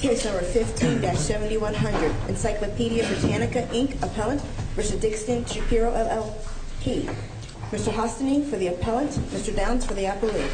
Case number 15-7100, Encyclopaedia Britannica, Inc. Appellant v. Dickstein Shapiro, LLP Mr. Hostany for the Appellant, Mr. Downs for the Appellant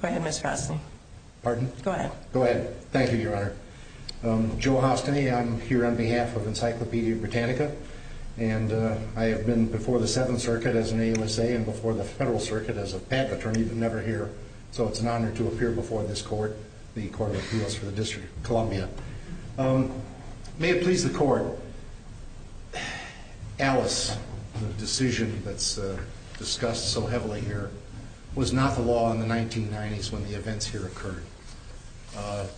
Go ahead, Ms. Hostany. Pardon? Go ahead. Thank you, Your Honor. Joe Hostany, I'm here on behalf of Encyclopaedia Britannica and I have been before the Seventh Circuit as an AUSA and before the Federal Circuit as a patent attorney, but never here. So it's an honor to appear before this Court, the Court of Appeals for the District of Columbia. May it please the Court, Alice, the decision that's discussed so heavily here, was not the law in the 1990s when the events here occurred.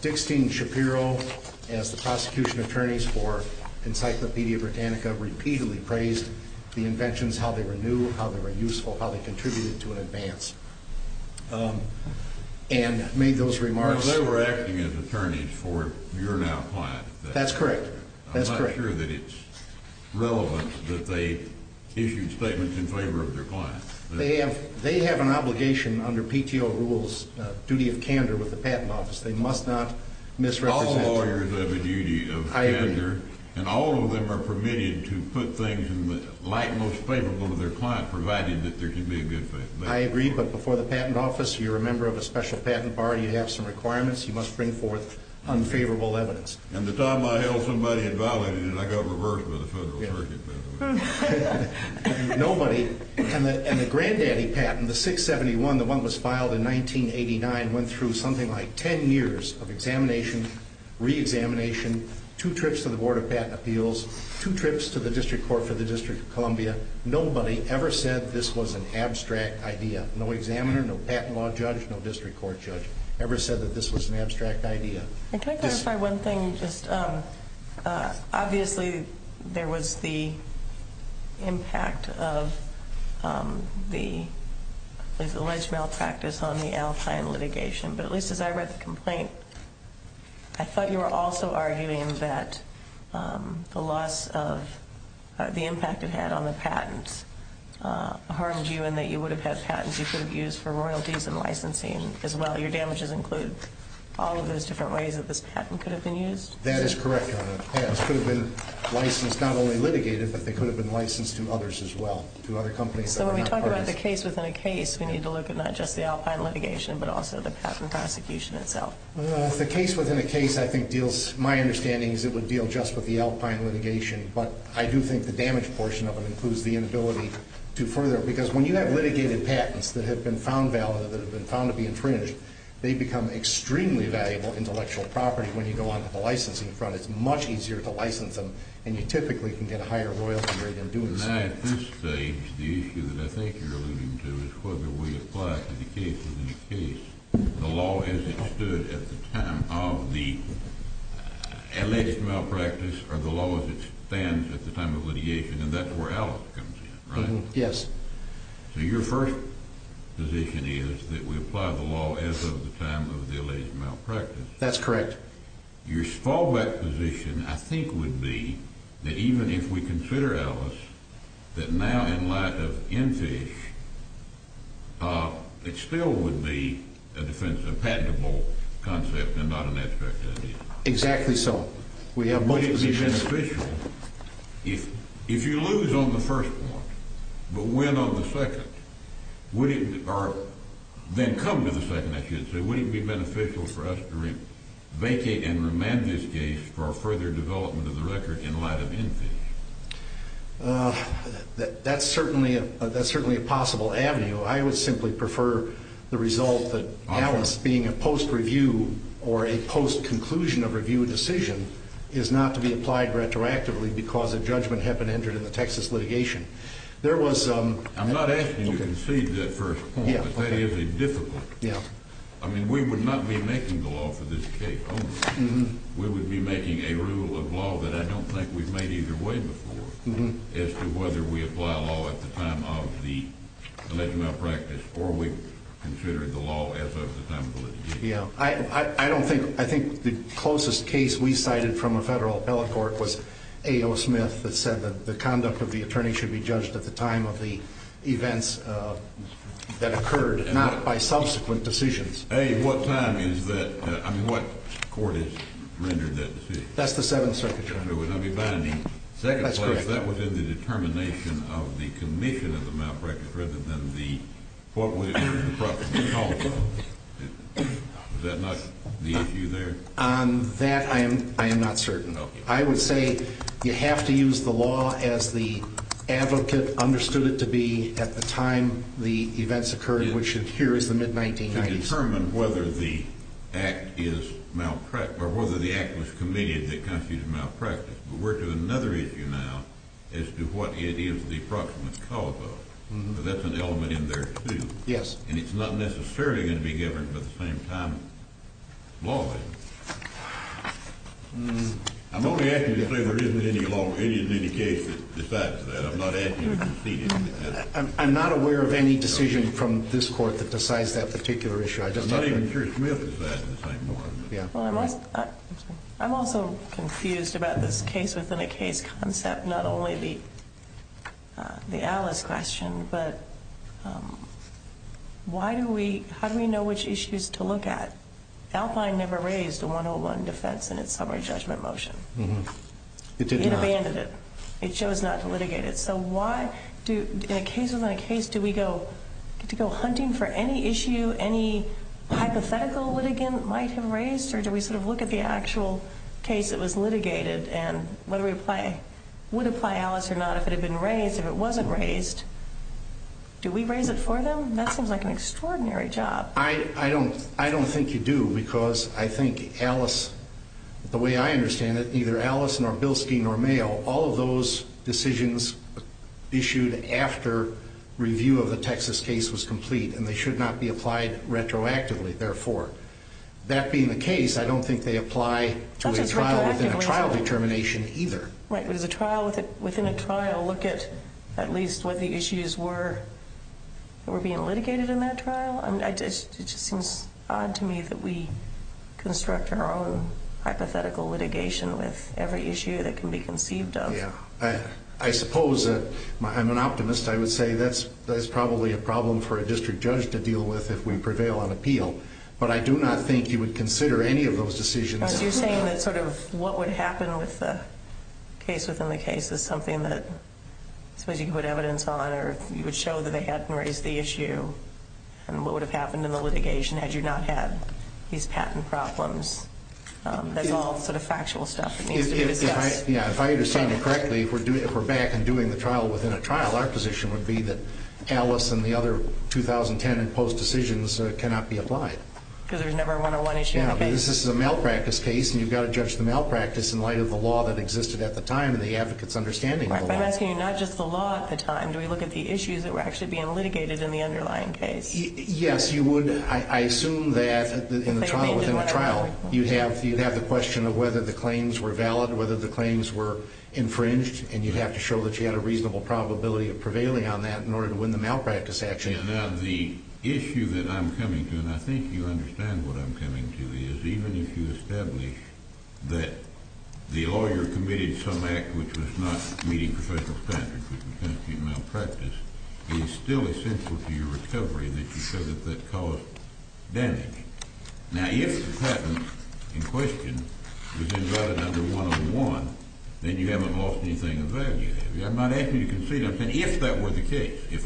Dickstein Shapiro, as the prosecution attorneys for Encyclopaedia Britannica, repeatedly praised the inventions, how they were new, how they were useful, how they contributed to an advance, and made those remarks. They were acting as attorneys for your now client. That's correct. I'm not sure that it's relevant that they issued statements in favor of their client. They have an obligation under PTO rules, duty of candor with the patent office. They must not misrepresent. All lawyers have a duty of candor. I agree. And all of them are permitted to put things in the light most favorable of their client, provided that there can be a good fact. I agree, but before the patent office, you're a member of a special patent party, you have some requirements, you must bring forth unfavorable evidence. And the time I held somebody had violated it, I got reversed by the Federal Circuit. Nobody, and the granddaddy patent, the 671, the one that was filed in 1989, went through something like ten years of examination, re-examination, two trips to the Board of Patent Appeals, two trips to the District Court for the District of Columbia. Nobody ever said this was an abstract idea. No examiner, no patent law judge, no district court judge ever said that this was an abstract idea. Can I clarify one thing? Obviously, there was the impact of the alleged malpractice on the Alpine litigation, but at least as I read the complaint, I thought you were also arguing that the loss of the impact it had on the patents harmed you in that you would have had patents you could have used for royalties and licensing as well. Your damages include all of those different ways that this patent could have been used? That is correct, Your Honor. Patents could have been licensed not only litigated, but they could have been licensed to others as well, to other companies that were not parties. So when we talk about the case within a case, we need to look at not just the Alpine litigation, but also the patent prosecution itself. The case within a case I think deals, my understanding is it would deal just with the Alpine litigation, but I do think the damage portion of it includes the inability to further, because when you have litigated patents that have been found valid, that have been found to be infringed, they become extremely valuable intellectual property when you go on to the licensing front. It's much easier to license them, and you typically can get a higher royalty rate in doing so. At this stage, the issue that I think you're alluding to is whether we apply to the case within a case the law as it stood at the time of the alleged malpractice or the law as it stands at the time of litigation, and that's where Alice comes in, right? Yes. So your first position is that we apply the law as of the time of the alleged malpractice? That's correct. Your fallback position, I think, would be that even if we consider, Alice, that now in light of Enfish, it still would be a defense of patentable concept and not an aspect of it. Exactly so. We have both positions. Would it be beneficial if you lose on the first one but win on the second? Or then come to the second, I should say. Would it be beneficial for us to vacate and remand this case for further development of the record in light of Enfish? That's certainly a possible avenue. I would simply prefer the result that Alice being a post-review or a post-conclusion of review decision is not to be applied retroactively because a judgment had been entered in the Texas litigation. I'm not asking you to concede that first point, but that is a difficulty. I mean, we would not be making the law for this case over. We would be making a rule of law that I don't think we've made either way before as to whether we apply law at the time of the alleged malpractice I think the closest case we cited from a federal appellate court was A.O. Smith that said that the conduct of the attorney should be judged at the time of the events that occurred, not by subsequent decisions. At what time is that? I mean, what court has rendered that decision? That's the Seventh Circuit, Your Honor. That's correct. On that, I am not certain. I would say you have to use the law as the advocate understood it to be at the time the events occurred, which here is the mid-1990s. I can't determine whether the act was committed that constitutes malpractice, but we're to another issue now as to what it is the approximate cause of. That's an element in there, too. Yes. And it's not necessarily going to be given by the same time law is. I'm only asking you to say there isn't any law or any case that decides that. I'm not asking you to concede anything. I'm not aware of any decision from this court that decides that particular issue. I'm also confused about this case-within-a-case concept, not only the Alice question, but how do we know which issues to look at? Alpine never raised a 101 defense in its summary judgment motion. It did not. It abandoned it. It chose not to litigate it. In a case-within-a-case, do we get to go hunting for any issue, any hypothetical litigant might have raised, or do we sort of look at the actual case that was litigated and whether it would apply Alice or not if it had been raised? If it wasn't raised, do we raise it for them? That seems like an extraordinary job. I don't think you do because I think Alice, the way I understand it, and neither Alice nor Bilski nor Mayo, all of those decisions issued after review of the Texas case was complete, and they should not be applied retroactively, therefore. That being the case, I don't think they apply to a trial-within-a-trial determination either. Right, but does a trial-within-a-trial look at at least what the issues were that were being litigated in that trial? It just seems odd to me that we construct our own hypothetical litigation with every issue that can be conceived of. I suppose that, I'm an optimist, I would say that's probably a problem for a district judge to deal with if we prevail on appeal, but I do not think you would consider any of those decisions. So you're saying that sort of what would happen with the case-within-a-case is something that, suppose you put evidence on, or you would show that they hadn't raised the issue, and what would have happened in the litigation had you not had these patent problems? That's all sort of factual stuff that needs to be discussed. Yeah, if I understand you correctly, if we're back and doing the trial-within-a-trial, our position would be that Alice and the other 2010 imposed decisions cannot be applied. Because there was never a 101 issue in the case? Yeah, but this is a malpractice case, and you've got to judge the malpractice in light of the law that existed at the time and the advocate's understanding of the law. I'm asking you not just the law at the time. Do we look at the issues that were actually being litigated in the underlying case? Yes, you would. I assume that in the trial-within-a-trial, you'd have the question of whether the claims were valid, whether the claims were infringed, and you'd have to show that you had a reasonable probability of prevailing on that in order to win the malpractice action. Yeah, now the issue that I'm coming to, and I think you understand what I'm coming to, is even if you establish that the lawyer committed some act which was not meeting professional standards which would constitute malpractice, it is still essential to your recovery that you show that that caused damage. Now, if the patent in question was invalidated under 101, then you haven't lost anything of value, have you? I'm not asking you to concede. I'm saying if that were the case, if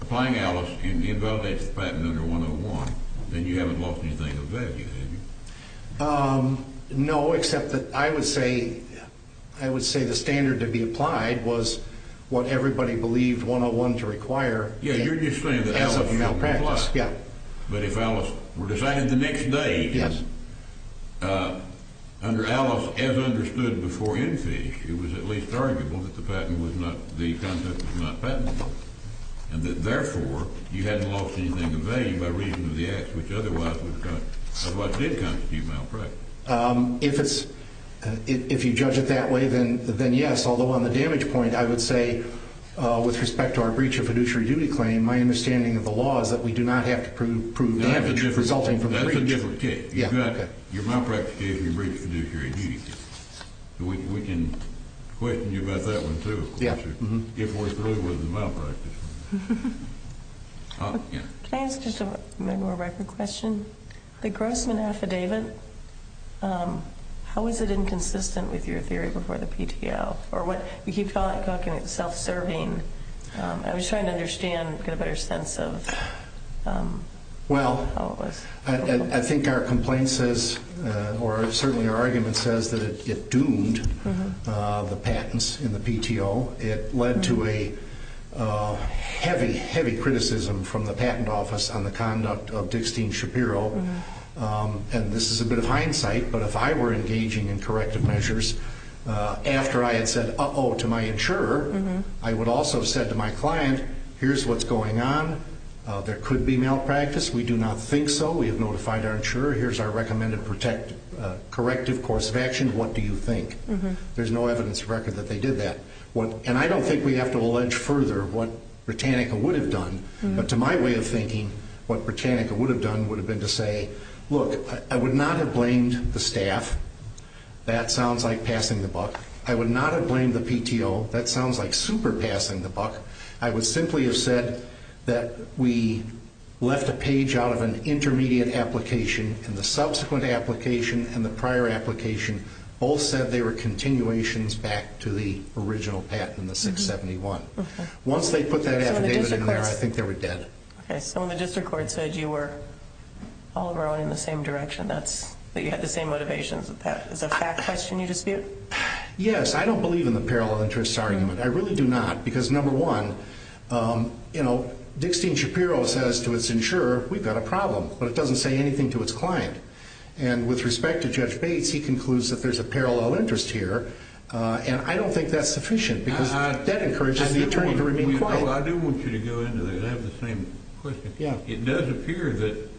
applying Alice invalidates the patent under 101, then you haven't lost anything of value, have you? No, except that I would say the standard to be applied was what everybody believed 101 to require as of malpractice. Yeah, you're just saying that Alice would apply. But if Alice were decided the next day, under Alice as understood before infish, it was at least arguable that the patent was not, the content was not patentable, and that therefore you hadn't lost anything of value by reason of the act which otherwise did constitute malpractice. If you judge it that way, then yes. Although on the damage point, I would say with respect to our breach of fiduciary duty claim, my understanding of the law is that we do not have to prove damage resulting from the breach. That's a different case. Your malpractice case and your breach of fiduciary duty case. We can question you about that one too, of course, if we're through with the malpractice one. Can I ask just a more rapid question? The Grossman Affidavit, how is it inconsistent with your theory before the PTO? Or what you keep talking about self-serving. I was trying to understand, get a better sense of how it was. Well, I think our complaint says, or certainly our argument says, that it doomed the patents in the PTO. It led to a heavy, heavy criticism from the patent office on the conduct of Dixtine Shapiro. And this is a bit of hindsight, but if I were engaging in corrective measures, after I had said uh-oh to my insurer, I would also have said to my client, here's what's going on. There could be malpractice. We do not think so. We have notified our insurer. Here's our recommended corrective course of action. What do you think? There's no evidence of record that they did that. And I don't think we have to allege further what Britannica would have done. But to my way of thinking, what Britannica would have done would have been to say, look, I would not have blamed the staff. That sounds like passing the buck. I would not have blamed the PTO. That sounds like super passing the buck. I would simply have said that we left a page out of an intermediate application, and the subsequent application and the prior application both said they were continuations back to the original patent in the 671. Once they put that affidavit in there, I think they were dead. Okay. So when the district court said you were all rowing in the same direction, that you had the same motivations. Is that a fact question you dispute? Yes. I don't believe in the parallel interest argument. I really do not because, number one, you know, Dixtine Shapiro says to his insurer, we've got a problem. But it doesn't say anything to its client. And with respect to Judge Bates, he concludes that there's a parallel interest here, and I don't think that's sufficient because that encourages the attorney to remain quiet. I do want you to go into that. I have the same question. Yeah. It does appear that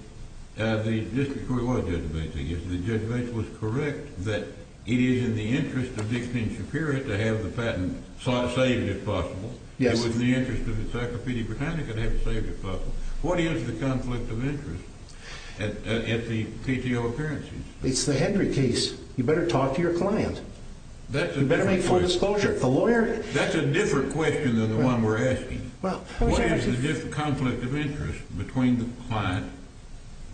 the district court was, Judge Bates, I guess, that Judge Bates was correct that it is in the interest of Dixtine Shapiro to have the patent saved if possible. Yes. It was in the interest of the Sacrapedi Britannica to have it saved if possible. What is the conflict of interest at the PTO appearances? It's the Hendry case. You better talk to your client. You better make full disclosure. That's a different question than the one we're asking. What is the conflict of interest between the client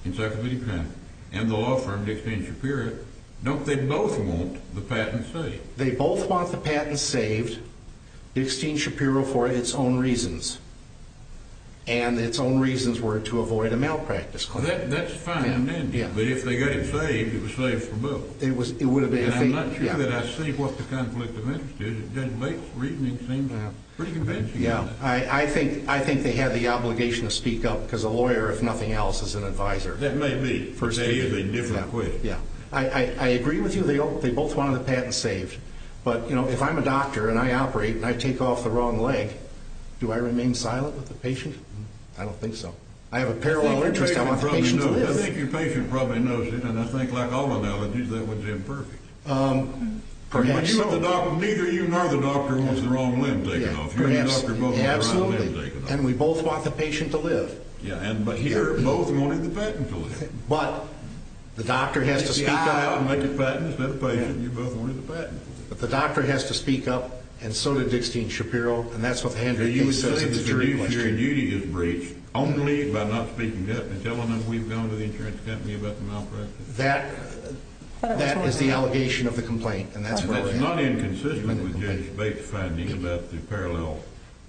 in Sacrapedi Britannica and the law firm Dixtine Shapiro? Don't they both want the patent saved? They both want the patent saved, Dixtine Shapiro, for its own reasons and its own reasons were to avoid a malpractice claim. That's fine. But if they got it saved, it was saved for both. And I'm not sure that I see what the conflict of interest is. Judge Bates' reasoning seems to have pretty convincing evidence. Yeah. I think they had the obligation to speak up because a lawyer, if nothing else, is an advisor. That may be. But that is a different question. Yeah. I agree with you. They both wanted the patent saved. But, you know, if I'm a doctor and I operate and I take off the wrong leg, do I remain silent with the patient? I don't think so. I have a parallel interest. I want the patient to live. I think your patient probably knows it. And I think, like all analogies, that would be imperfect. Perhaps. Neither you nor the doctor wants the wrong limb taken off. You and the doctor both want the right limb taken off. And we both want the patient to live. Yeah. But here, both wanted the patent to live. But the doctor has to speak up. Yeah. You both wanted the patent. But the doctor has to speak up, and so did Dickstein Shapiro. And that's what the handling case says in the jury question. Your duty is breached only by not speaking up and telling them we've gone to the insurance company about the malpractice. That is the allegation of the complaint, and that's what I'm saying. It's not inconsistent with Judge Bates' finding about the parallel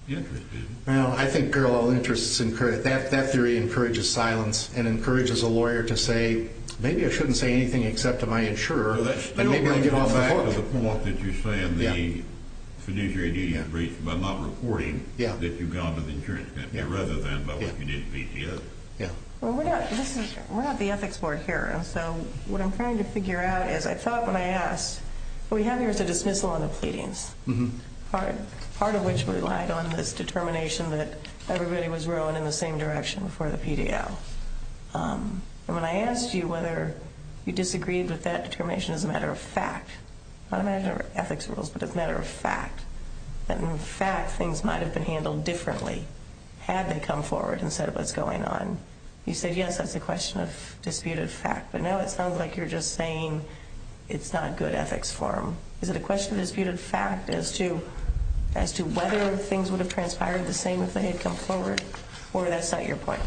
interest, is it? Well, I think parallel interest is encouraged. That theory encourages silence and encourages a lawyer to say, maybe I shouldn't say anything except to my insurer, and maybe I'll get off the hook. But that still goes back to the point that you're saying the fiduciary duty is breached by not reporting that you've gone to the insurance company rather than by what you did to PCS. Yeah. Well, we're not the ethics board here, and so what I'm trying to figure out is I thought when I asked, what we have here is a dismissal and a pleadings, part of which relied on this determination that everybody was rowing in the same direction for the PDL. And when I asked you whether you disagreed with that determination as a matter of fact, not a matter of ethics rules, but as a matter of fact, that in fact things might have been handled differently had they come forward and said what's going on, you said, yes, that's a question of disputed fact. But now it sounds like you're just saying it's not good ethics form. Is it a question of disputed fact as to whether things would have transpired the same if they had come forward, or that's not your point?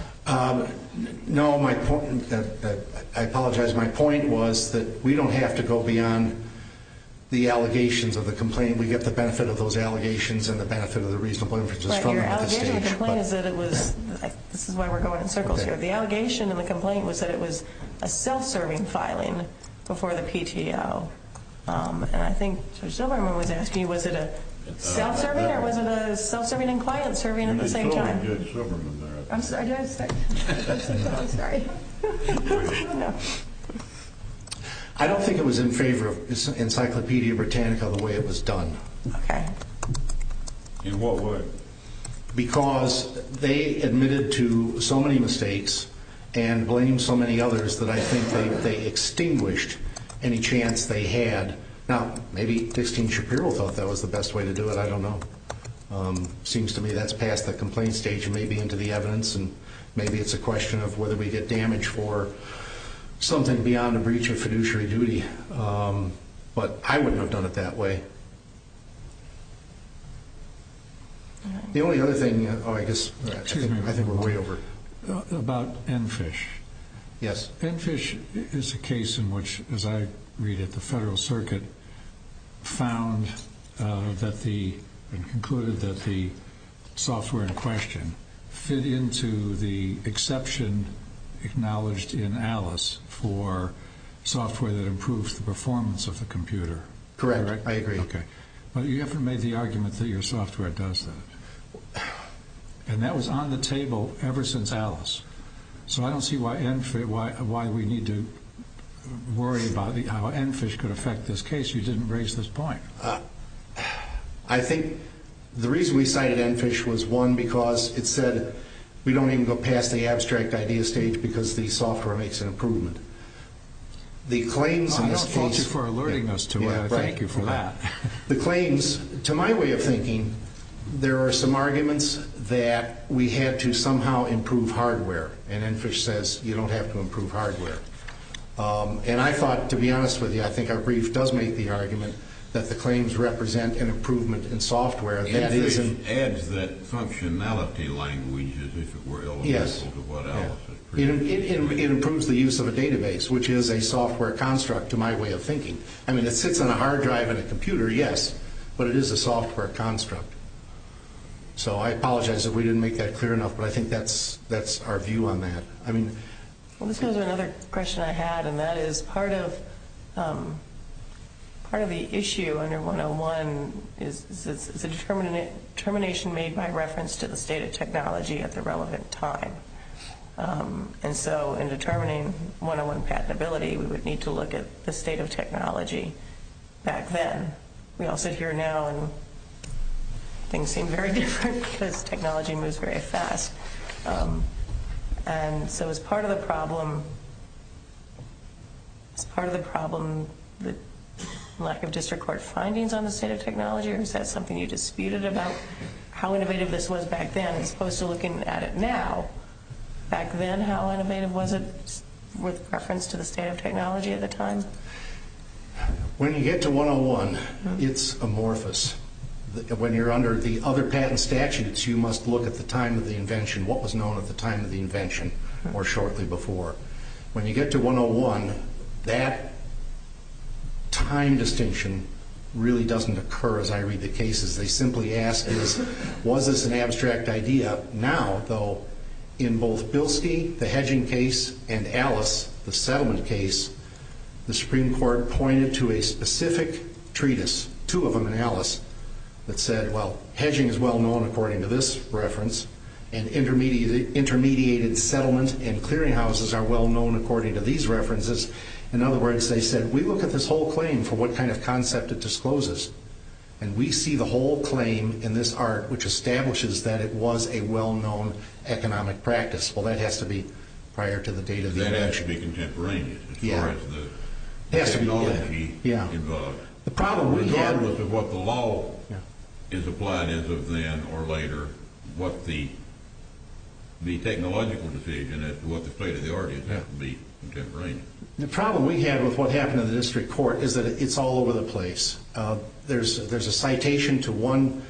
No, I apologize. My point was that we don't have to go beyond the allegations of the complaint. We get the benefit of those allegations and the benefit of the reasonable inferences from them at this stage. Right here. Allegation of the complaint is that it was – this is why we're going in circles here. The allegation of the complaint was that it was a self-serving filing before the PTO. And I think Judge Silverman was asking, was it a self-serving or was it a self-serving and client-serving at the same time? Judge Silverman there. I'm sorry. I'm sorry. I don't think it was in favor of Encyclopedia Britannica the way it was done. Okay. In what way? Because they admitted to so many mistakes and blamed so many others that I think they extinguished any chance they had. Now, maybe Dixie Shapiro thought that was the best way to do it. I don't know. It seems to me that's past the complaint stage and maybe into the evidence. And maybe it's a question of whether we get damage for something beyond a breach of fiduciary duty. But I wouldn't have done it that way. The only other thing – oh, I guess – I think we're way over. About ENFISH. Yes. ENFISH is a case in which, as I read it, the Federal Circuit found that the – and concluded that the software in question fit into the exception acknowledged in ALICE for software that improves the performance of the computer. Correct. I agree. Okay. But you haven't made the argument that your software does that. And that was on the table ever since ALICE. So I don't see why we need to worry about how ENFISH could affect this case. You didn't raise this point. I think the reason we cited ENFISH was, one, because it said we don't even go past the abstract idea stage because the software makes an improvement. I don't fault you for alerting us to it. Thank you for that. The claims – to my way of thinking, there are some arguments that we had to somehow improve hardware. And ENFISH says you don't have to improve hardware. And I thought, to be honest with you, I think our brief does make the argument that the claims represent an improvement in software. ENFISH adds that functionality language as if it were eligible to what ALICE has produced. It improves the use of a database, which is a software construct, to my way of thinking. I mean, it sits on a hard drive in a computer, yes, but it is a software construct. So I apologize if we didn't make that clear enough, but I think that's our view on that. Well, this goes to another question I had, and that is part of the issue under 101 is a determination made by reference to the state of technology at the relevant time. And so in determining 101 patentability, we would need to look at the state of technology back then. We all sit here now, and things seem very different because technology moves very fast. And so as part of the problem – as part of the problem, the lack of district court findings on the state of technology, is that something you disputed about how innovative this was back then as opposed to looking at it now? Back then, how innovative was it with reference to the state of technology at the time? When you get to 101, it's amorphous. When you're under the other patent statutes, you must look at the time of the invention, what was known at the time of the invention or shortly before. When you get to 101, that time distinction really doesn't occur as I read the cases. They simply ask, was this an abstract idea? Now, though, in both Bilski, the hedging case, and Alice, the settlement case, the Supreme Court pointed to a specific treatise, two of them in Alice, that said, well, hedging is well-known according to this reference, and intermediated settlement and clearinghouses are well-known according to these references. In other words, they said, we look at this whole claim for what kind of concept it discloses, and we see the whole claim in this art which establishes that it was a well-known economic practice. Well, that has to be prior to the date of the invention. That has to be contemporaneous as far as the technology involved. Regardless of what the law is applied as of then or later, what the technological decision as to what the state of the art is has to be contemporaneous. The problem we had with what happened in the district court is that it's all over the place. There's a citation to one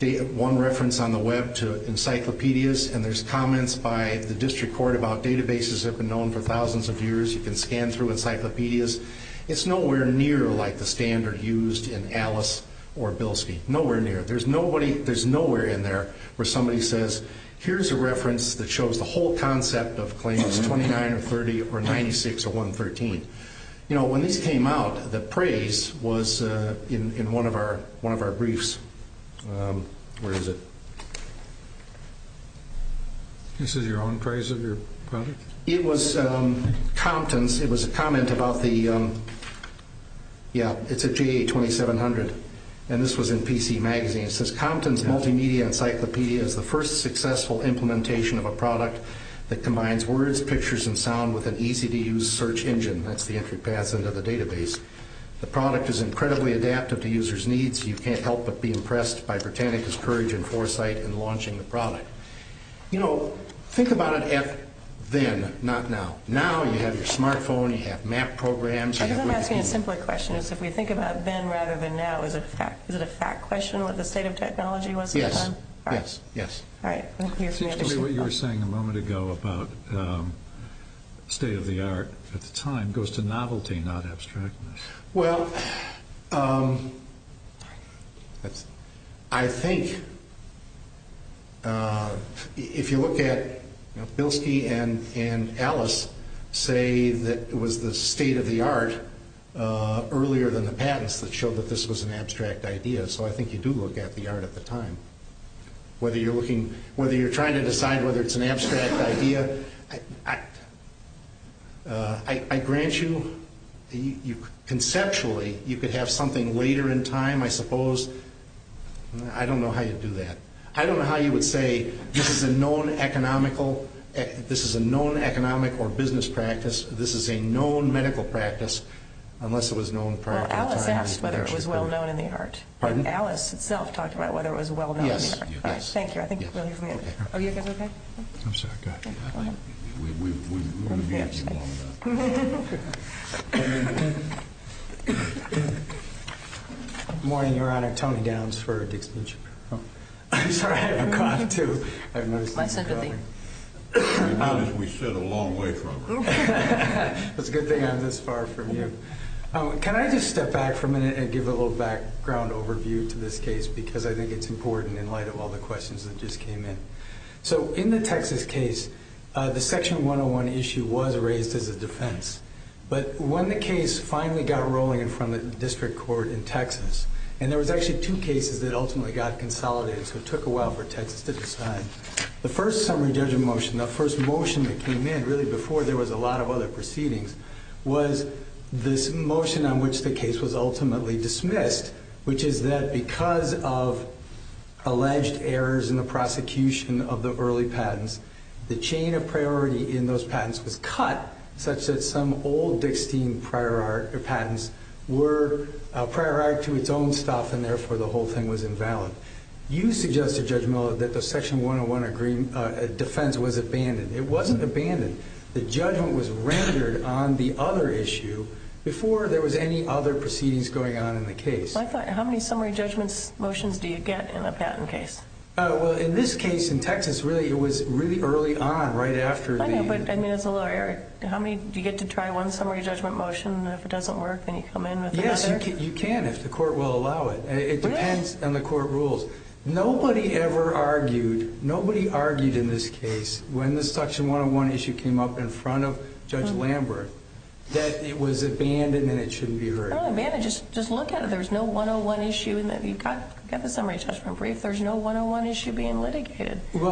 reference on the web to encyclopedias, and there's comments by the district court about databases that have been known for thousands of years. You can scan through encyclopedias. It's nowhere near like the standard used in Alice or Bilski. Nowhere near. There's nowhere in there where somebody says, here's a reference that shows the whole concept of claims 29 or 30 or 96 or 113. When these came out, the praise was in one of our briefs. Where is it? This is your own praise of your product? It was Compton's. It was a comment about the, yeah, it's a GA 2700, and this was in PC Magazine. It says, Compton's multimedia encyclopedia is the first successful implementation of a product that combines words, pictures, and sound with an easy-to-use search engine. That's the entry pass into the database. The product is incredibly adaptive to users' needs. You can't help but be impressed by Britannica's courage and foresight in launching the product. You know, think about it then, not now. Now you have your smartphone, you have map programs. I guess I'm asking a simpler question. If we think about then rather than now, is it a fact question what the state of technology was at the time? Yes. All right. It seems to me what you were saying a moment ago about state of the art at the time goes to novelty, not abstractness. Well, I think if you look at, you know, Bilski and Alice say that it was the state of the art earlier than the patents that showed that this was an abstract idea. So I think you do look at the art at the time. Whether you're trying to decide whether it's an abstract idea, I grant you conceptually you could have something later in time, I suppose. I don't know how you'd do that. I don't know how you would say this is a known economic or business practice, this is a known medical practice, unless it was known prior to the time. Well, Alice asked whether it was well-known in the art. Pardon? Alice itself talked about whether it was well-known in the art. Yes. Thank you. I think we'll leave it there. Are you guys okay? I'm sorry. Go ahead. Good morning, Your Honor. Tony Downs for Dixie and Chappelle. I'm sorry. I'm caught, too. My sympathy. As we said, a long way from her. It's a good thing I'm this far from you. Can I just step back for a minute and give a little background overview to this case because I think it's important in light of all the questions that just came in. In the Texas case, the Section 101 issue was raised as a defense, but when the case finally got rolling in front of the district court in Texas, and there was actually two cases that ultimately got consolidated, so it took a while for Texas to decide, the first summary judgment motion, the first motion that came in really before there was a lot of other proceedings, was this motion on which the case was ultimately dismissed, which is that because of alleged errors in the prosecution of the early patents, the chain of priority in those patents was cut such that some old Dixie patents were prior to its own stuff, and therefore the whole thing was invalid. You suggested, Judge Miller, that the Section 101 defense was abandoned. It wasn't abandoned. The judgment was rendered on the other issue before there was any other proceedings going on in the case. I thought, how many summary judgment motions do you get in a patent case? Well, in this case in Texas, really, it was really early on, right after the— I know, but I mean, as a lawyer, how many—do you get to try one summary judgment motion, and if it doesn't work, then you come in with another? Yes, you can if the court will allow it. It depends on the court rules. Nobody ever argued—nobody argued in this case, when the Section 101 issue came up in front of Judge Lambert, that it was abandoned and it shouldn't be heard. It's not abandoned. Just look at it. There's no 101 issue. You've got the summary judgment brief. There's no 101 issue being litigated. Do we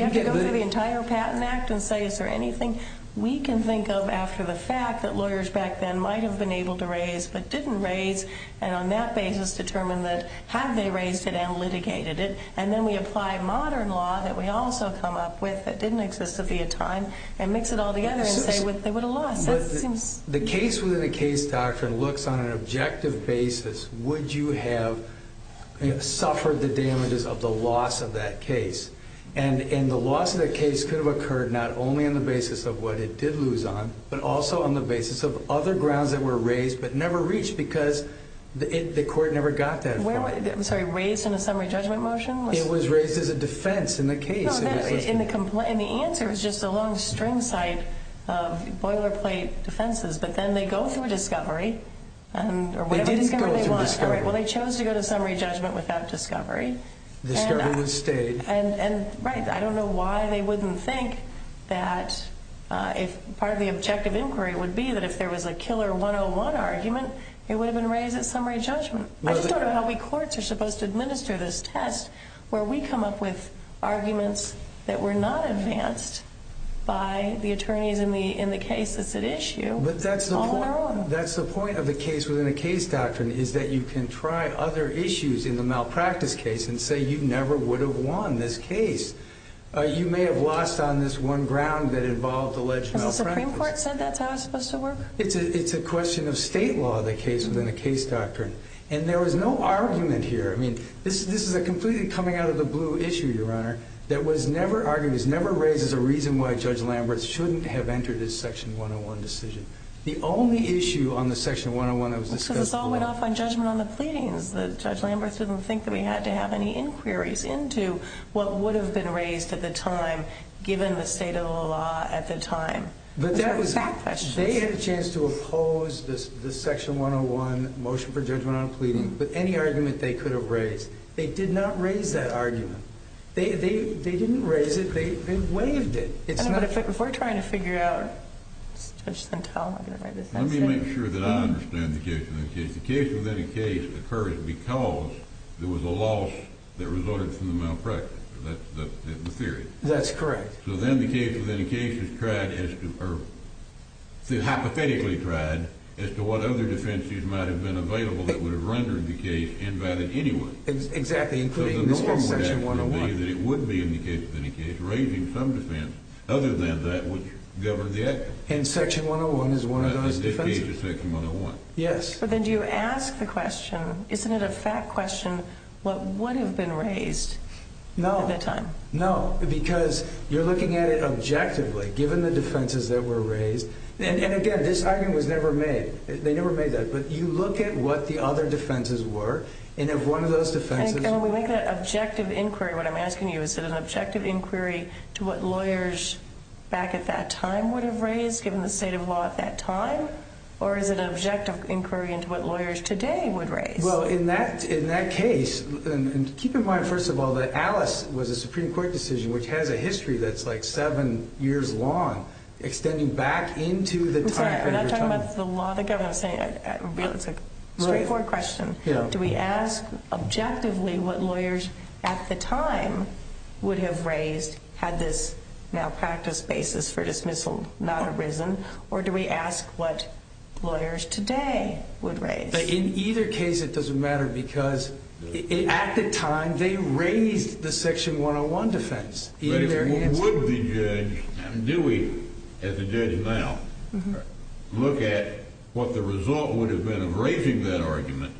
have to go through the entire Patent Act and say, is there anything we can think of after the fact that lawyers back then might have been able to raise but didn't raise, and on that basis determine that, have they raised it and litigated it? And then we apply modern law that we also come up with that didn't exist at the time and mix it all together and say, they would have lost. That seems— The case-within-a-case doctrine looks on an objective basis. Would you have suffered the damages of the loss of that case? And the loss of that case could have occurred not only on the basis of what it did lose on, but also on the basis of other grounds that were raised but never reached because the court never got that. I'm sorry. Raised in a summary judgment motion? It was raised as a defense in the case. And the answer is just a long string side of boilerplate defenses. But then they go through a discovery. They did go through a discovery. Well, they chose to go to summary judgment without discovery. Discovery was stayed. Right. I don't know why they wouldn't think that part of the objective inquiry would be that if there was a killer 101 argument, it would have been raised at summary judgment. I just don't know how we courts are supposed to administer this test where we come up with arguments that were not advanced by the attorneys in the case that's at issue all in our own. That's the point of the case-within-a-case doctrine is that you can try other issues in the malpractice case and say you never would have won this case. You may have lost on this one ground that involved alleged malpractice. Has the Supreme Court said that's how it's supposed to work? It's a question of state law, the case-within-a-case doctrine. And there was no argument here. I mean, this is a completely coming-out-of-the-blue issue, Your Honor, that was never argued. It never raises a reason why Judge Lambert shouldn't have entered his section 101 decision. The only issue on the section 101 that was discussed- Because it all went off on judgment on the pleadings. Judge Lambert didn't think that we had to have any inquiries into what would have been raised at the time given the state of the law at the time. But that was- Those are exact questions. They had a chance to oppose the section 101 motion for judgment on a pleading with any argument they could have raised. They did not raise that argument. They didn't raise it. They waived it. If we're trying to figure out- Judge Santel, I'm going to write this down. Let me make sure that I understand the case-within-a-case. The case-within-a-case occurred because there was a loss that resulted from the malpractice. That's the theory. That's correct. So then the case-within-a-case is tried as to- or hypothetically tried as to what other defenses might have been available that would have rendered the case invalid anyway. Exactly, including this section 101. It would be in the case-within-a-case raising some defense other than that which governed the act. And section 101 is one of those defenses. This case is section 101. Yes. But then do you ask the question, isn't it a fact question, what would have been raised at that time? No. No, because you're looking at it objectively, given the defenses that were raised. And, again, this argument was never made. They never made that. But you look at what the other defenses were, and if one of those defenses- And when we make that objective inquiry, what I'm asking you, is it an objective inquiry to what lawyers back at that time would have raised, given the state of law at that time? Or is it an objective inquiry into what lawyers today would raise? Well, in that case-and keep in mind, first of all, that Alice was a Supreme Court decision, which has a history that's like seven years long, extending back into the time- I'm sorry. I'm not talking about the law. The governor was saying-it's a straightforward question. Do we ask objectively what lawyers at the time would have raised, had this malpractice basis for dismissal not arisen, or do we ask what lawyers today would raise? In either case, it doesn't matter, because at the time, they raised the Section 101 defense. But would the judge-do we, as a judge now, look at what the result would have been of raising that argument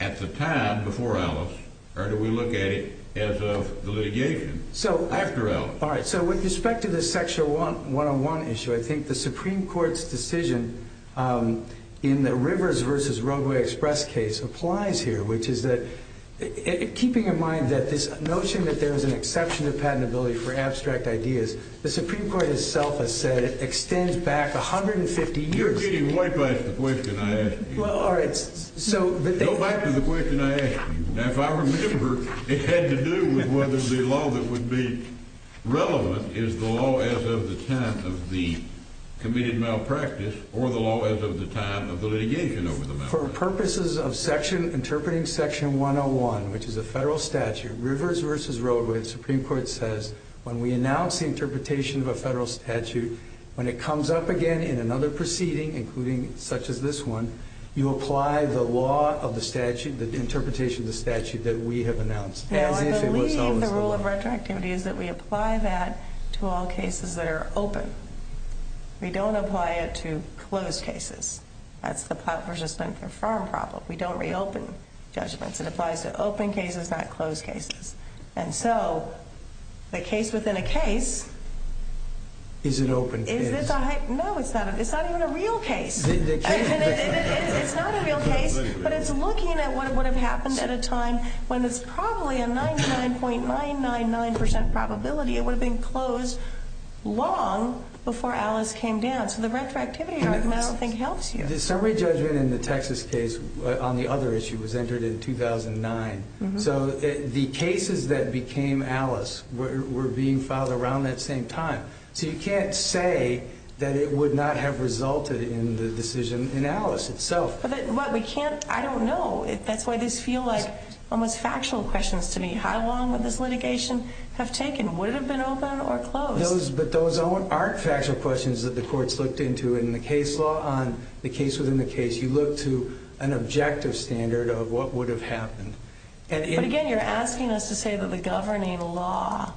at the time before Alice, or do we look at it as of the litigation after Alice? All right, so with respect to the Section 101 issue, I think the Supreme Court's decision in the Rivers v. Roadway Express case applies here, which is that-keeping in mind that this notion that there is an exception to patentability for abstract ideas, the Supreme Court itself has said it extends back 150 years. You're getting way past the question I asked you. Well, all right, so- Go back to the question I asked you. Now, if I remember, it had to do with whether the law that would be relevant is the law as of the time of the committed malpractice or the law as of the time of the litigation over the malpractice. For purposes of interpreting Section 101, which is a federal statute, Rivers v. Roadway, the Supreme Court says, when we announce the interpretation of a federal statute, when it comes up again in another proceeding, including such as this one, you apply the law of the statute, the interpretation of the statute that we have announced, as if it was always the law. Now, I believe the rule of retroactivity is that we apply that to all cases that are open. We don't apply it to closed cases. That's the Platt v. Splinter Farm problem. We don't reopen judgments. It applies to open cases, not closed cases. And so, the case within a case- Is it open case? No, it's not. It's not even a real case. It's not a real case, but it's looking at what would have happened at a time when it's probably a 99.999% probability it would have been closed long before Alice came down. So, the retroactivity argument, I don't think, helps you. The summary judgment in the Texas case on the other issue was entered in 2009. So, the cases that became Alice were being filed around that same time. So, you can't say that it would not have resulted in the decision in Alice itself. But we can't- I don't know. That's why this feels like almost factual questions to me. How long would this litigation have taken? Would it have been open or closed? But those aren't factual questions that the courts looked into in the case law. On the case within the case, you look to an objective standard of what would have happened. But again, you're asking us to say that the governing law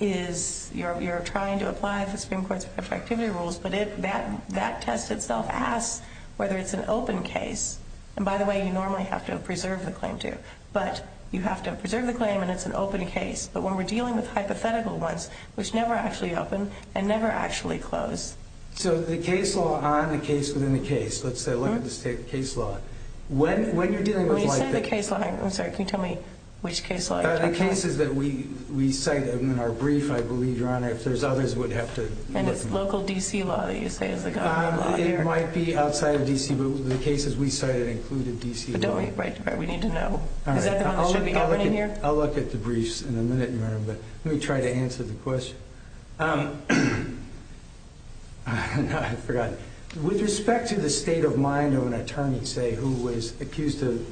is- You're trying to apply the Supreme Court's retroactivity rules, but that test itself asks whether it's an open case. And by the way, you normally have to preserve the claim, too. But you have to preserve the claim and it's an open case. But when we're dealing with hypothetical ones, which never actually open and never actually close- So, the case law on the case within the case- Let's say I look at the state case law. When you're dealing with- When you say the case law- I'm sorry, can you tell me which case law? The cases that we cite in our brief, I believe, Your Honor. If there's others, we'd have to- And it's local D.C. law that you say is the governing law here. It might be outside of D.C., but the cases we cited included D.C. law. But don't we need to know? Is that the one that should be governing here? I'll look at the briefs in a minute, Your Honor, but let me try to answer the question. I forgot. With respect to the state of mind of an attorney, say, who was accused of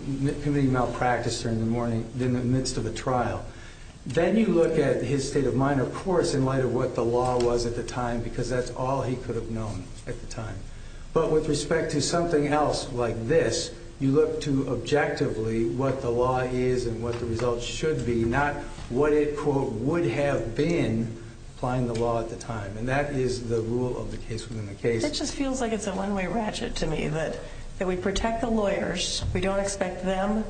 committing malpractice during the morning in the midst of a trial, then you look at his state of mind, of course, in light of what the law was at the time, because that's all he could have known at the time. But with respect to something else like this, you look to objectively what the law is and what the results should be, not what it, quote, would have been applying the law at the time. And that is the rule of the case within the case. It just feels like it's a one-way ratchet to me that we protect the lawyers. We don't expect them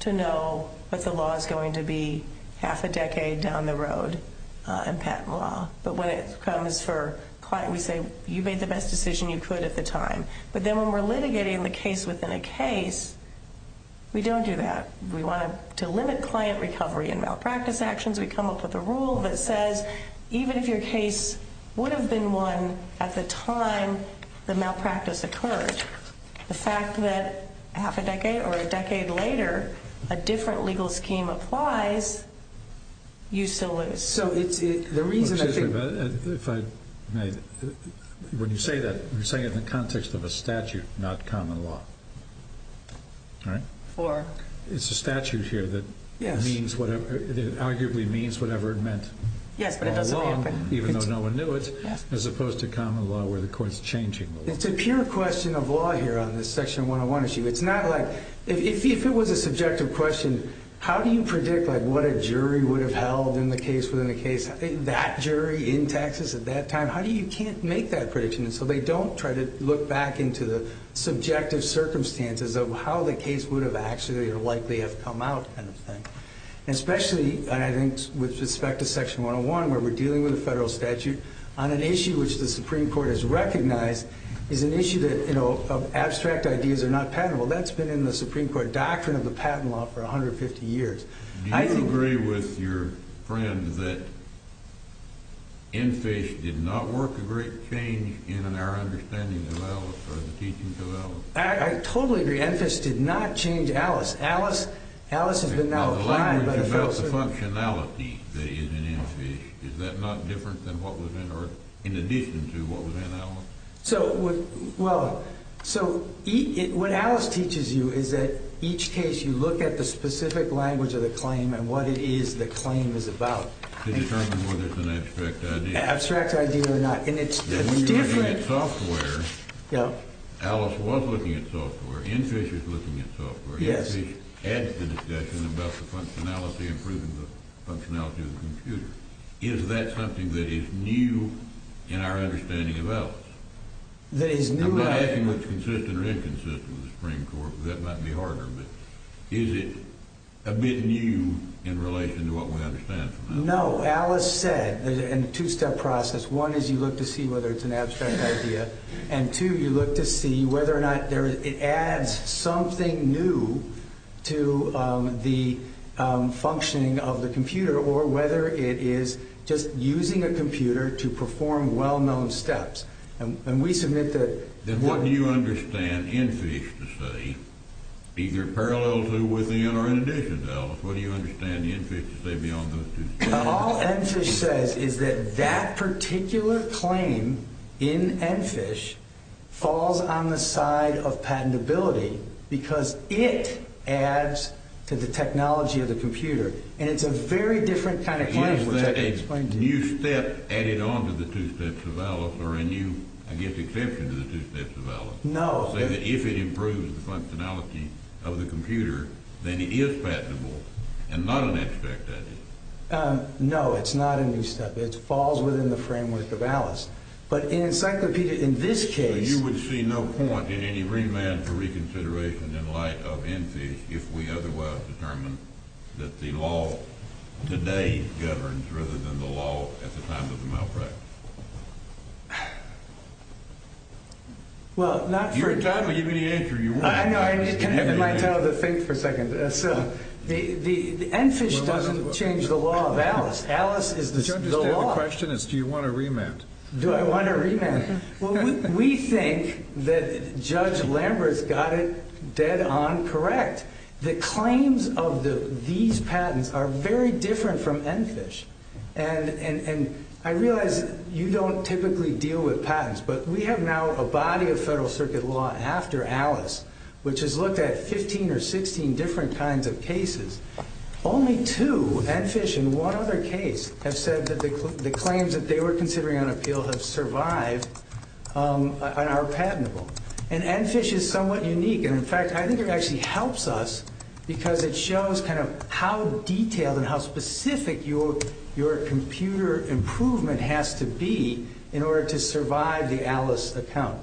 to know what the law is going to be half a decade down the road in patent law. But when it comes for client, we say you made the best decision you could at the time. But then when we're litigating the case within a case, we don't do that. We want to limit client recovery in malpractice actions. We come up with a rule that says even if your case would have been won at the time the malpractice occurred, the fact that half a decade or a decade later a different legal scheme applies, you still lose. When you say that, you're saying it in the context of a statute, not common law. It's a statute here that arguably means whatever it meant by law, even though no one knew it, as opposed to common law where the court is changing the law. It's a pure question of law here on this Section 101 issue. If it was a subjective question, how do you predict what a jury would have held in the case within the case? That jury in Texas at that time, how do you make that prediction? They don't try to look back into the subjective circumstances of how the case would have actually or likely have come out. Especially with respect to Section 101 where we're dealing with a federal statute on an issue which the Supreme Court has recognized is an issue of abstract ideas that are not patentable. That's been in the Supreme Court doctrine of the patent law for 150 years. Do you agree with your friend that EnFISH did not work a great change in our understanding of Alice or the teachings of Alice? I totally agree. EnFISH did not change Alice. Alice has been now applied by the Federal Circuit. The language about the functionality that is in EnFISH, is that not different than what was in, or in addition to what was in Alice? What Alice teaches you is that each case you look at the specific language of the claim and what it is the claim is about. To determine whether it's an abstract idea. Abstract idea or not. When you're looking at software, Alice was looking at software, EnFISH is looking at software. EnFISH adds to the discussion about the functionality and improving the functionality of the computer. Is that something that is new in our understanding of Alice? I'm not asking what's consistent or inconsistent with the Supreme Court, that might be harder. Is it a bit new in relation to what we understand from Alice? No, Alice said, in a two-step process, one is you look to see whether it's an abstract idea. And two, you look to see whether or not it adds something new to the functioning of the computer, or whether it is just using a computer to perform well-known steps. And we submit that... Then what do you understand EnFISH to say, either parallel to, within, or in addition to Alice? What do you understand EnFISH to say beyond those two? All EnFISH says is that that particular claim in EnFISH falls on the side of patentability, because it adds to the technology of the computer. And it's a very different kind of claim, which I can explain to you. Is that a new step added on to the two steps of Alice, or a new, I guess, exception to the two steps of Alice? No. So you're saying that if it improves the functionality of the computer, then it is patentable, and not an abstract idea? No, it's not a new step. It falls within the framework of Alice. But in Encyclopedia, in this case... So you would see no point in any remand for reconsideration in light of EnFISH, if we otherwise determined that the law today governs, rather than the law at the time of the malpractice? Well, not for... If you're done, I'll give you the answer. I know, I need my time to think for a second. EnFISH doesn't change the law of Alice. Alice is the law. The question is, do you want a remand? Do I want a remand? Well, we think that Judge Lambert's got it dead on correct. The claims of these patents are very different from EnFISH. And I realize you don't typically deal with patents, but we have now a body of Federal Circuit law after Alice, which has looked at 15 or 16 different kinds of cases. Only two, EnFISH and one other case, have said that the claims that they were considering on appeal have survived and are patentable. And EnFISH is somewhat unique. And in fact, I think it actually helps us because it shows kind of how detailed and how specific your computer improvement has to be in order to survive the Alice account.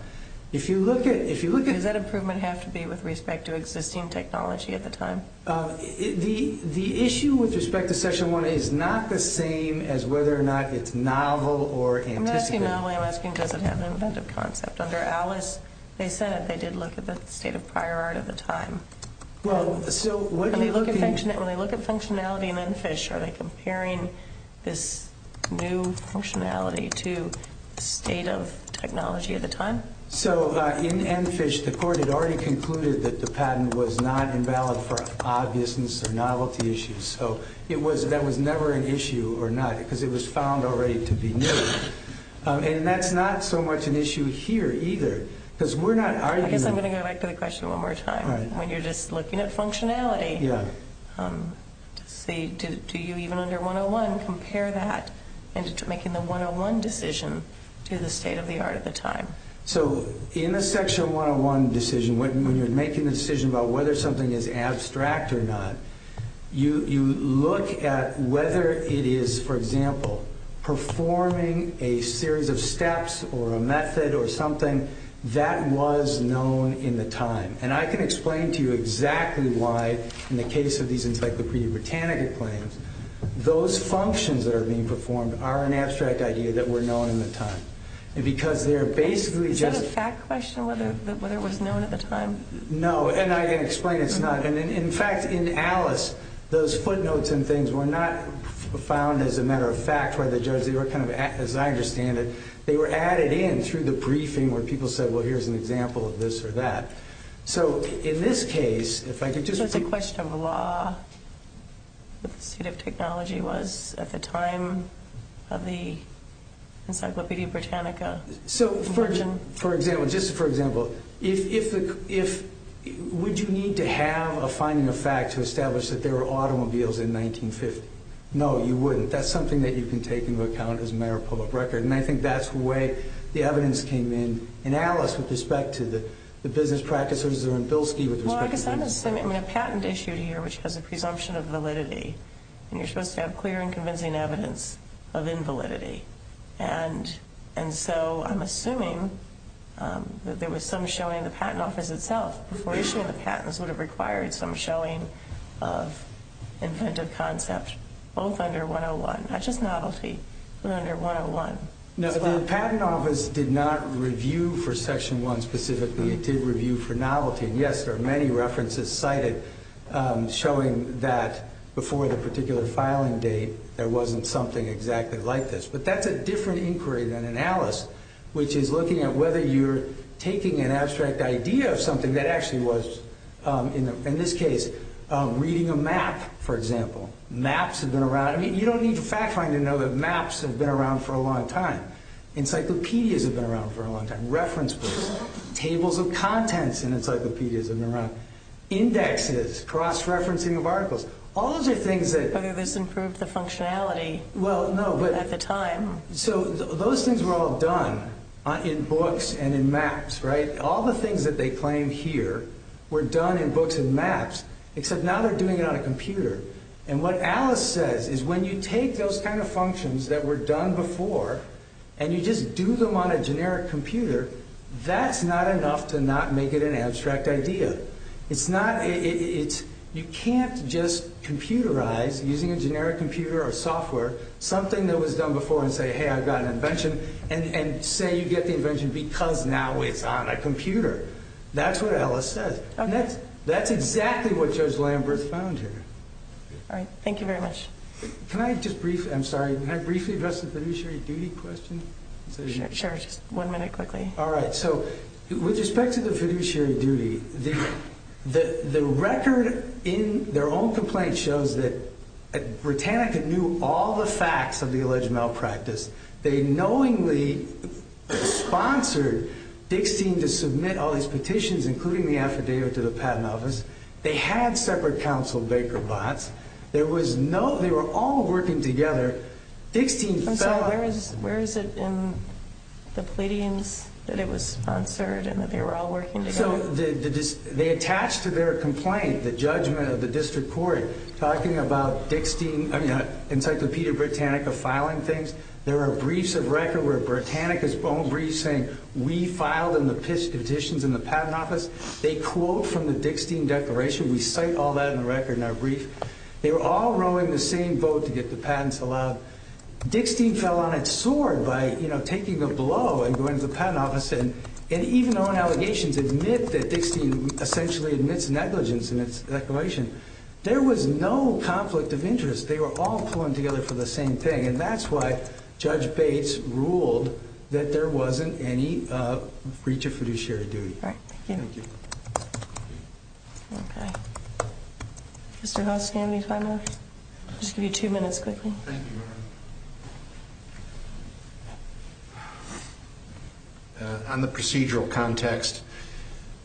If you look at... Does that improvement have to be with respect to existing technology at the time? The issue with respect to Section 1 is not the same as whether or not it's novel or anticipated. I'm not asking novelty, I'm asking does it have an inventive concept. Under Alice, they said that they did look at the state of prior art at the time. When they look at functionality in EnFISH, are they comparing this new functionality to the state of technology at the time? So in EnFISH, the court had already concluded that the patent was not invalid for obviousness or novelty issues. So that was never an issue or not because it was found already to be new. And that's not so much an issue here either because we're not arguing... I guess I'm going to go back to the question one more time. When you're just looking at functionality, do you even under 101 compare that and making the 101 decision to the state of the art at the time? So in the Section 101 decision, when you're making the decision about whether something is abstract or not, you look at whether it is, for example, performing a series of steps or a method or something that was known in the time. And I can explain to you exactly why in the case of these Encyclopedia Britannica claims, those functions that are being performed are an abstract idea that were known in the time. Is that a fact question, whether it was known at the time? No, and I can explain it's not. In fact, in Alice, those footnotes and things were not found as a matter of fact by the judge. As I understand it, they were added in through the briefing where people said, well, here's an example of this or that. So it's a question of law, what the state of technology was at the time of the Encyclopedia Britannica. So just for example, would you need to have a finding of fact to establish that there were automobiles in 1950? No, you wouldn't. That's something that you can take into account as a matter of public record. And I think that's the way the evidence came in in Alice with respect to the business practices or in Bilski with respect to business practices. Well, I guess I'm assuming a patent issued here, which has a presumption of validity, and you're supposed to have clear and convincing evidence of invalidity. And so I'm assuming that there was some showing in the patent office itself before issuing the patents would have required some showing of inventive concept, both under 101, not just novelty, but under 101. No, the patent office did not review for Section 1 specifically. It did review for novelty. Yes, there are many references cited showing that before the particular filing date there wasn't something exactly like this. But that's a different inquiry than in Alice, which is looking at whether you're taking an abstract idea of something that actually was, in this case, reading a map, for example. Maps have been around. I mean, you don't need fact-finding to know that maps have been around for a long time. Encyclopedias have been around for a long time. Reference books, tables of contents in encyclopedias have been around. Indexes, cross-referencing of articles. All those are things that— Whether this improved the functionality at the time. So those things were all done in books and in maps, right? All the things that they claim here were done in books and maps, except now they're doing it on a computer. And what Alice says is when you take those kind of functions that were done before and you just do them on a generic computer, that's not enough to not make it an abstract idea. You can't just computerize, using a generic computer or software, something that was done before and say, you get the invention because now it's on a computer. That's what Alice says. That's exactly what Judge Lambert found here. All right, thank you very much. Can I just briefly—I'm sorry, can I briefly address the fiduciary duty question? Sure, just one minute quickly. All right, so with respect to the fiduciary duty, the record in their own complaint shows that Britannica knew all the facts of the alleged malpractice. They knowingly sponsored Dixtein to submit all these petitions, including the affidavit, to the Patent Office. They had separate counsel, Baker Botts. They were all working together. I'm sorry, where is it in the pleadings that it was sponsored and that they were all working together? So they attached to their complaint the judgment of the District Court, talking about Dixtein—I mean, Encyclopedia Britannica filing things. There are briefs of record where Britannica's own briefs saying, we filed in the petitions in the Patent Office. They quote from the Dixtein declaration. We cite all that in the record in our brief. They were all rowing the same boat to get the patents allowed. Dixtein fell on its sword by, you know, taking a blow and going to the Patent Office and even their own allegations admit that Dixtein essentially admits negligence in its declaration. There was no conflict of interest. They were all pulling together for the same thing, and that's why Judge Bates ruled that there wasn't any breach of fiduciary duty. All right, thank you. Thank you. Okay. Mr. Hoskin, are we fine now? I'll just give you two minutes quickly. Thank you, Your Honor. On the procedural context,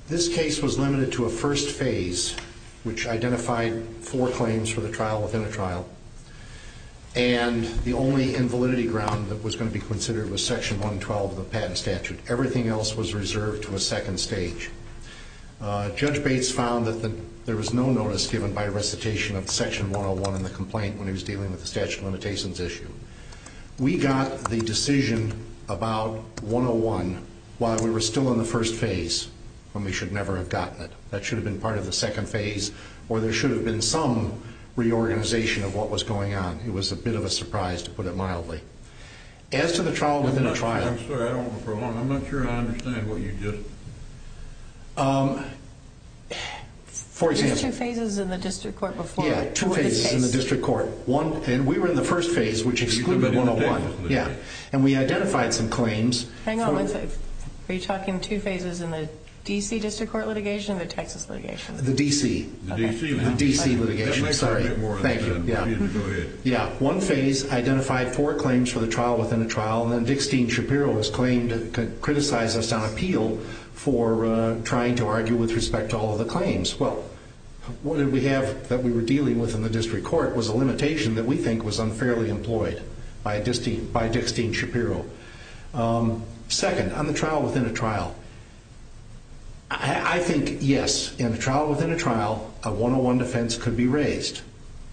this case was limited to a first phase, which identified four claims for the trial within a trial, and the only invalidity ground that was going to be considered was Section 112 of the patent statute. Everything else was reserved to a second stage. Judge Bates found that there was no notice given by recitation of Section 101 in the complaint when he was dealing with the statute of limitations issue. We got the decision about 101 while we were still in the first phase, when we should never have gotten it. That should have been part of the second phase, or there should have been some reorganization of what was going on. It was a bit of a surprise, to put it mildly. As to the trial within a trial... I'm sorry, I don't want to prolong. I'm not sure I understand what you just... For example... There were two phases in the district court before... Yeah, two phases in the district court. We were in the first phase, which excluded 101. We identified some claims... Hang on one second. Are you talking two phases in the D.C. district court litigation or the Texas litigation? The D.C. The D.C. The D.C. litigation. Sorry. Thank you. Go ahead. One phase identified four claims for the trial within a trial, and then Dickstein Shapiro has claimed to criticize us on appeal for trying to argue with respect to all of the claims. Well, what did we have that we were dealing with in the district court was a limitation that we think was unfairly employed by Dickstein Shapiro. Second, on the trial within a trial... I think, yes, in a trial within a trial, a 101 defense could be raised,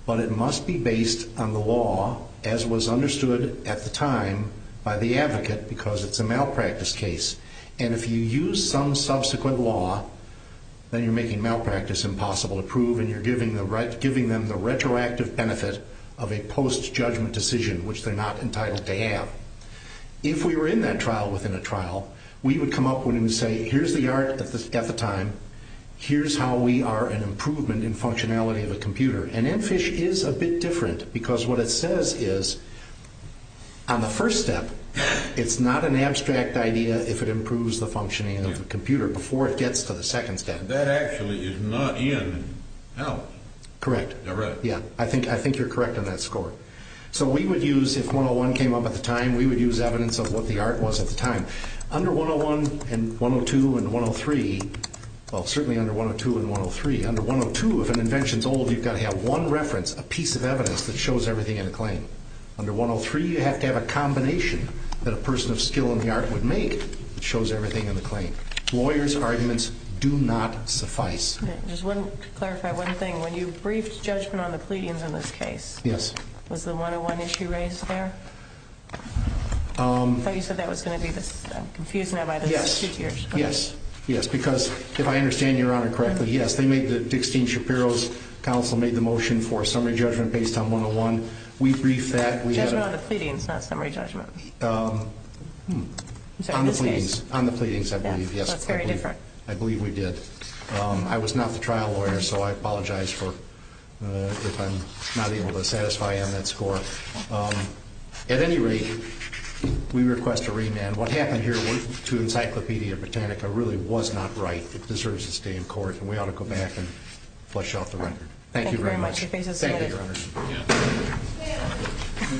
but it must be based on the law, as was understood at the time by the advocate, because it's a malpractice case. And if you use some subsequent law, then you're making malpractice impossible to prove and you're giving them the retroactive benefit of a post-judgment decision, which they're not entitled to have. If we were in that trial within a trial, we would come up with and say, Here's the art at the time. Here's how we are an improvement in functionality of a computer. And NFISH is a bit different because what it says is, on the first step, it's not an abstract idea if it improves the functioning of the computer before it gets to the second step. That actually is not in out. Correct. I think you're correct on that score. So we would use, if 101 came up at the time, we would use evidence of what the art was at the time. Under 101 and 102 and 103, well, certainly under 102 and 103, under 102, if an invention's old, you've got to have one reference, a piece of evidence that shows everything in a claim. Under 103, you have to have a combination that a person of skill in the art would make that shows everything in the claim. Lawyers' arguments do not suffice. Just to clarify one thing, when you briefed judgment on the pleadings in this case, was the 101 issue raised there? I thought you said that was going to be this. I'm confused now by the two tiers. Yes. Yes, because if I understand Your Honor correctly, yes, they made the Dixon Shapiro's counsel made the motion for summary judgment based on 101. We briefed that. Judgment on the pleadings, not summary judgment. On the pleadings. On the pleadings, I believe, yes. That's very different. I believe we did. I was not the trial lawyer, so I apologize if I'm not able to satisfy you on that score. At any rate, we request a remand. What happened here to Encyclopedia Britannica really was not right. It deserves to stay in court, and we ought to go back and flush out the record. Thank you very much. Thank you very much. Thank you. Thank you.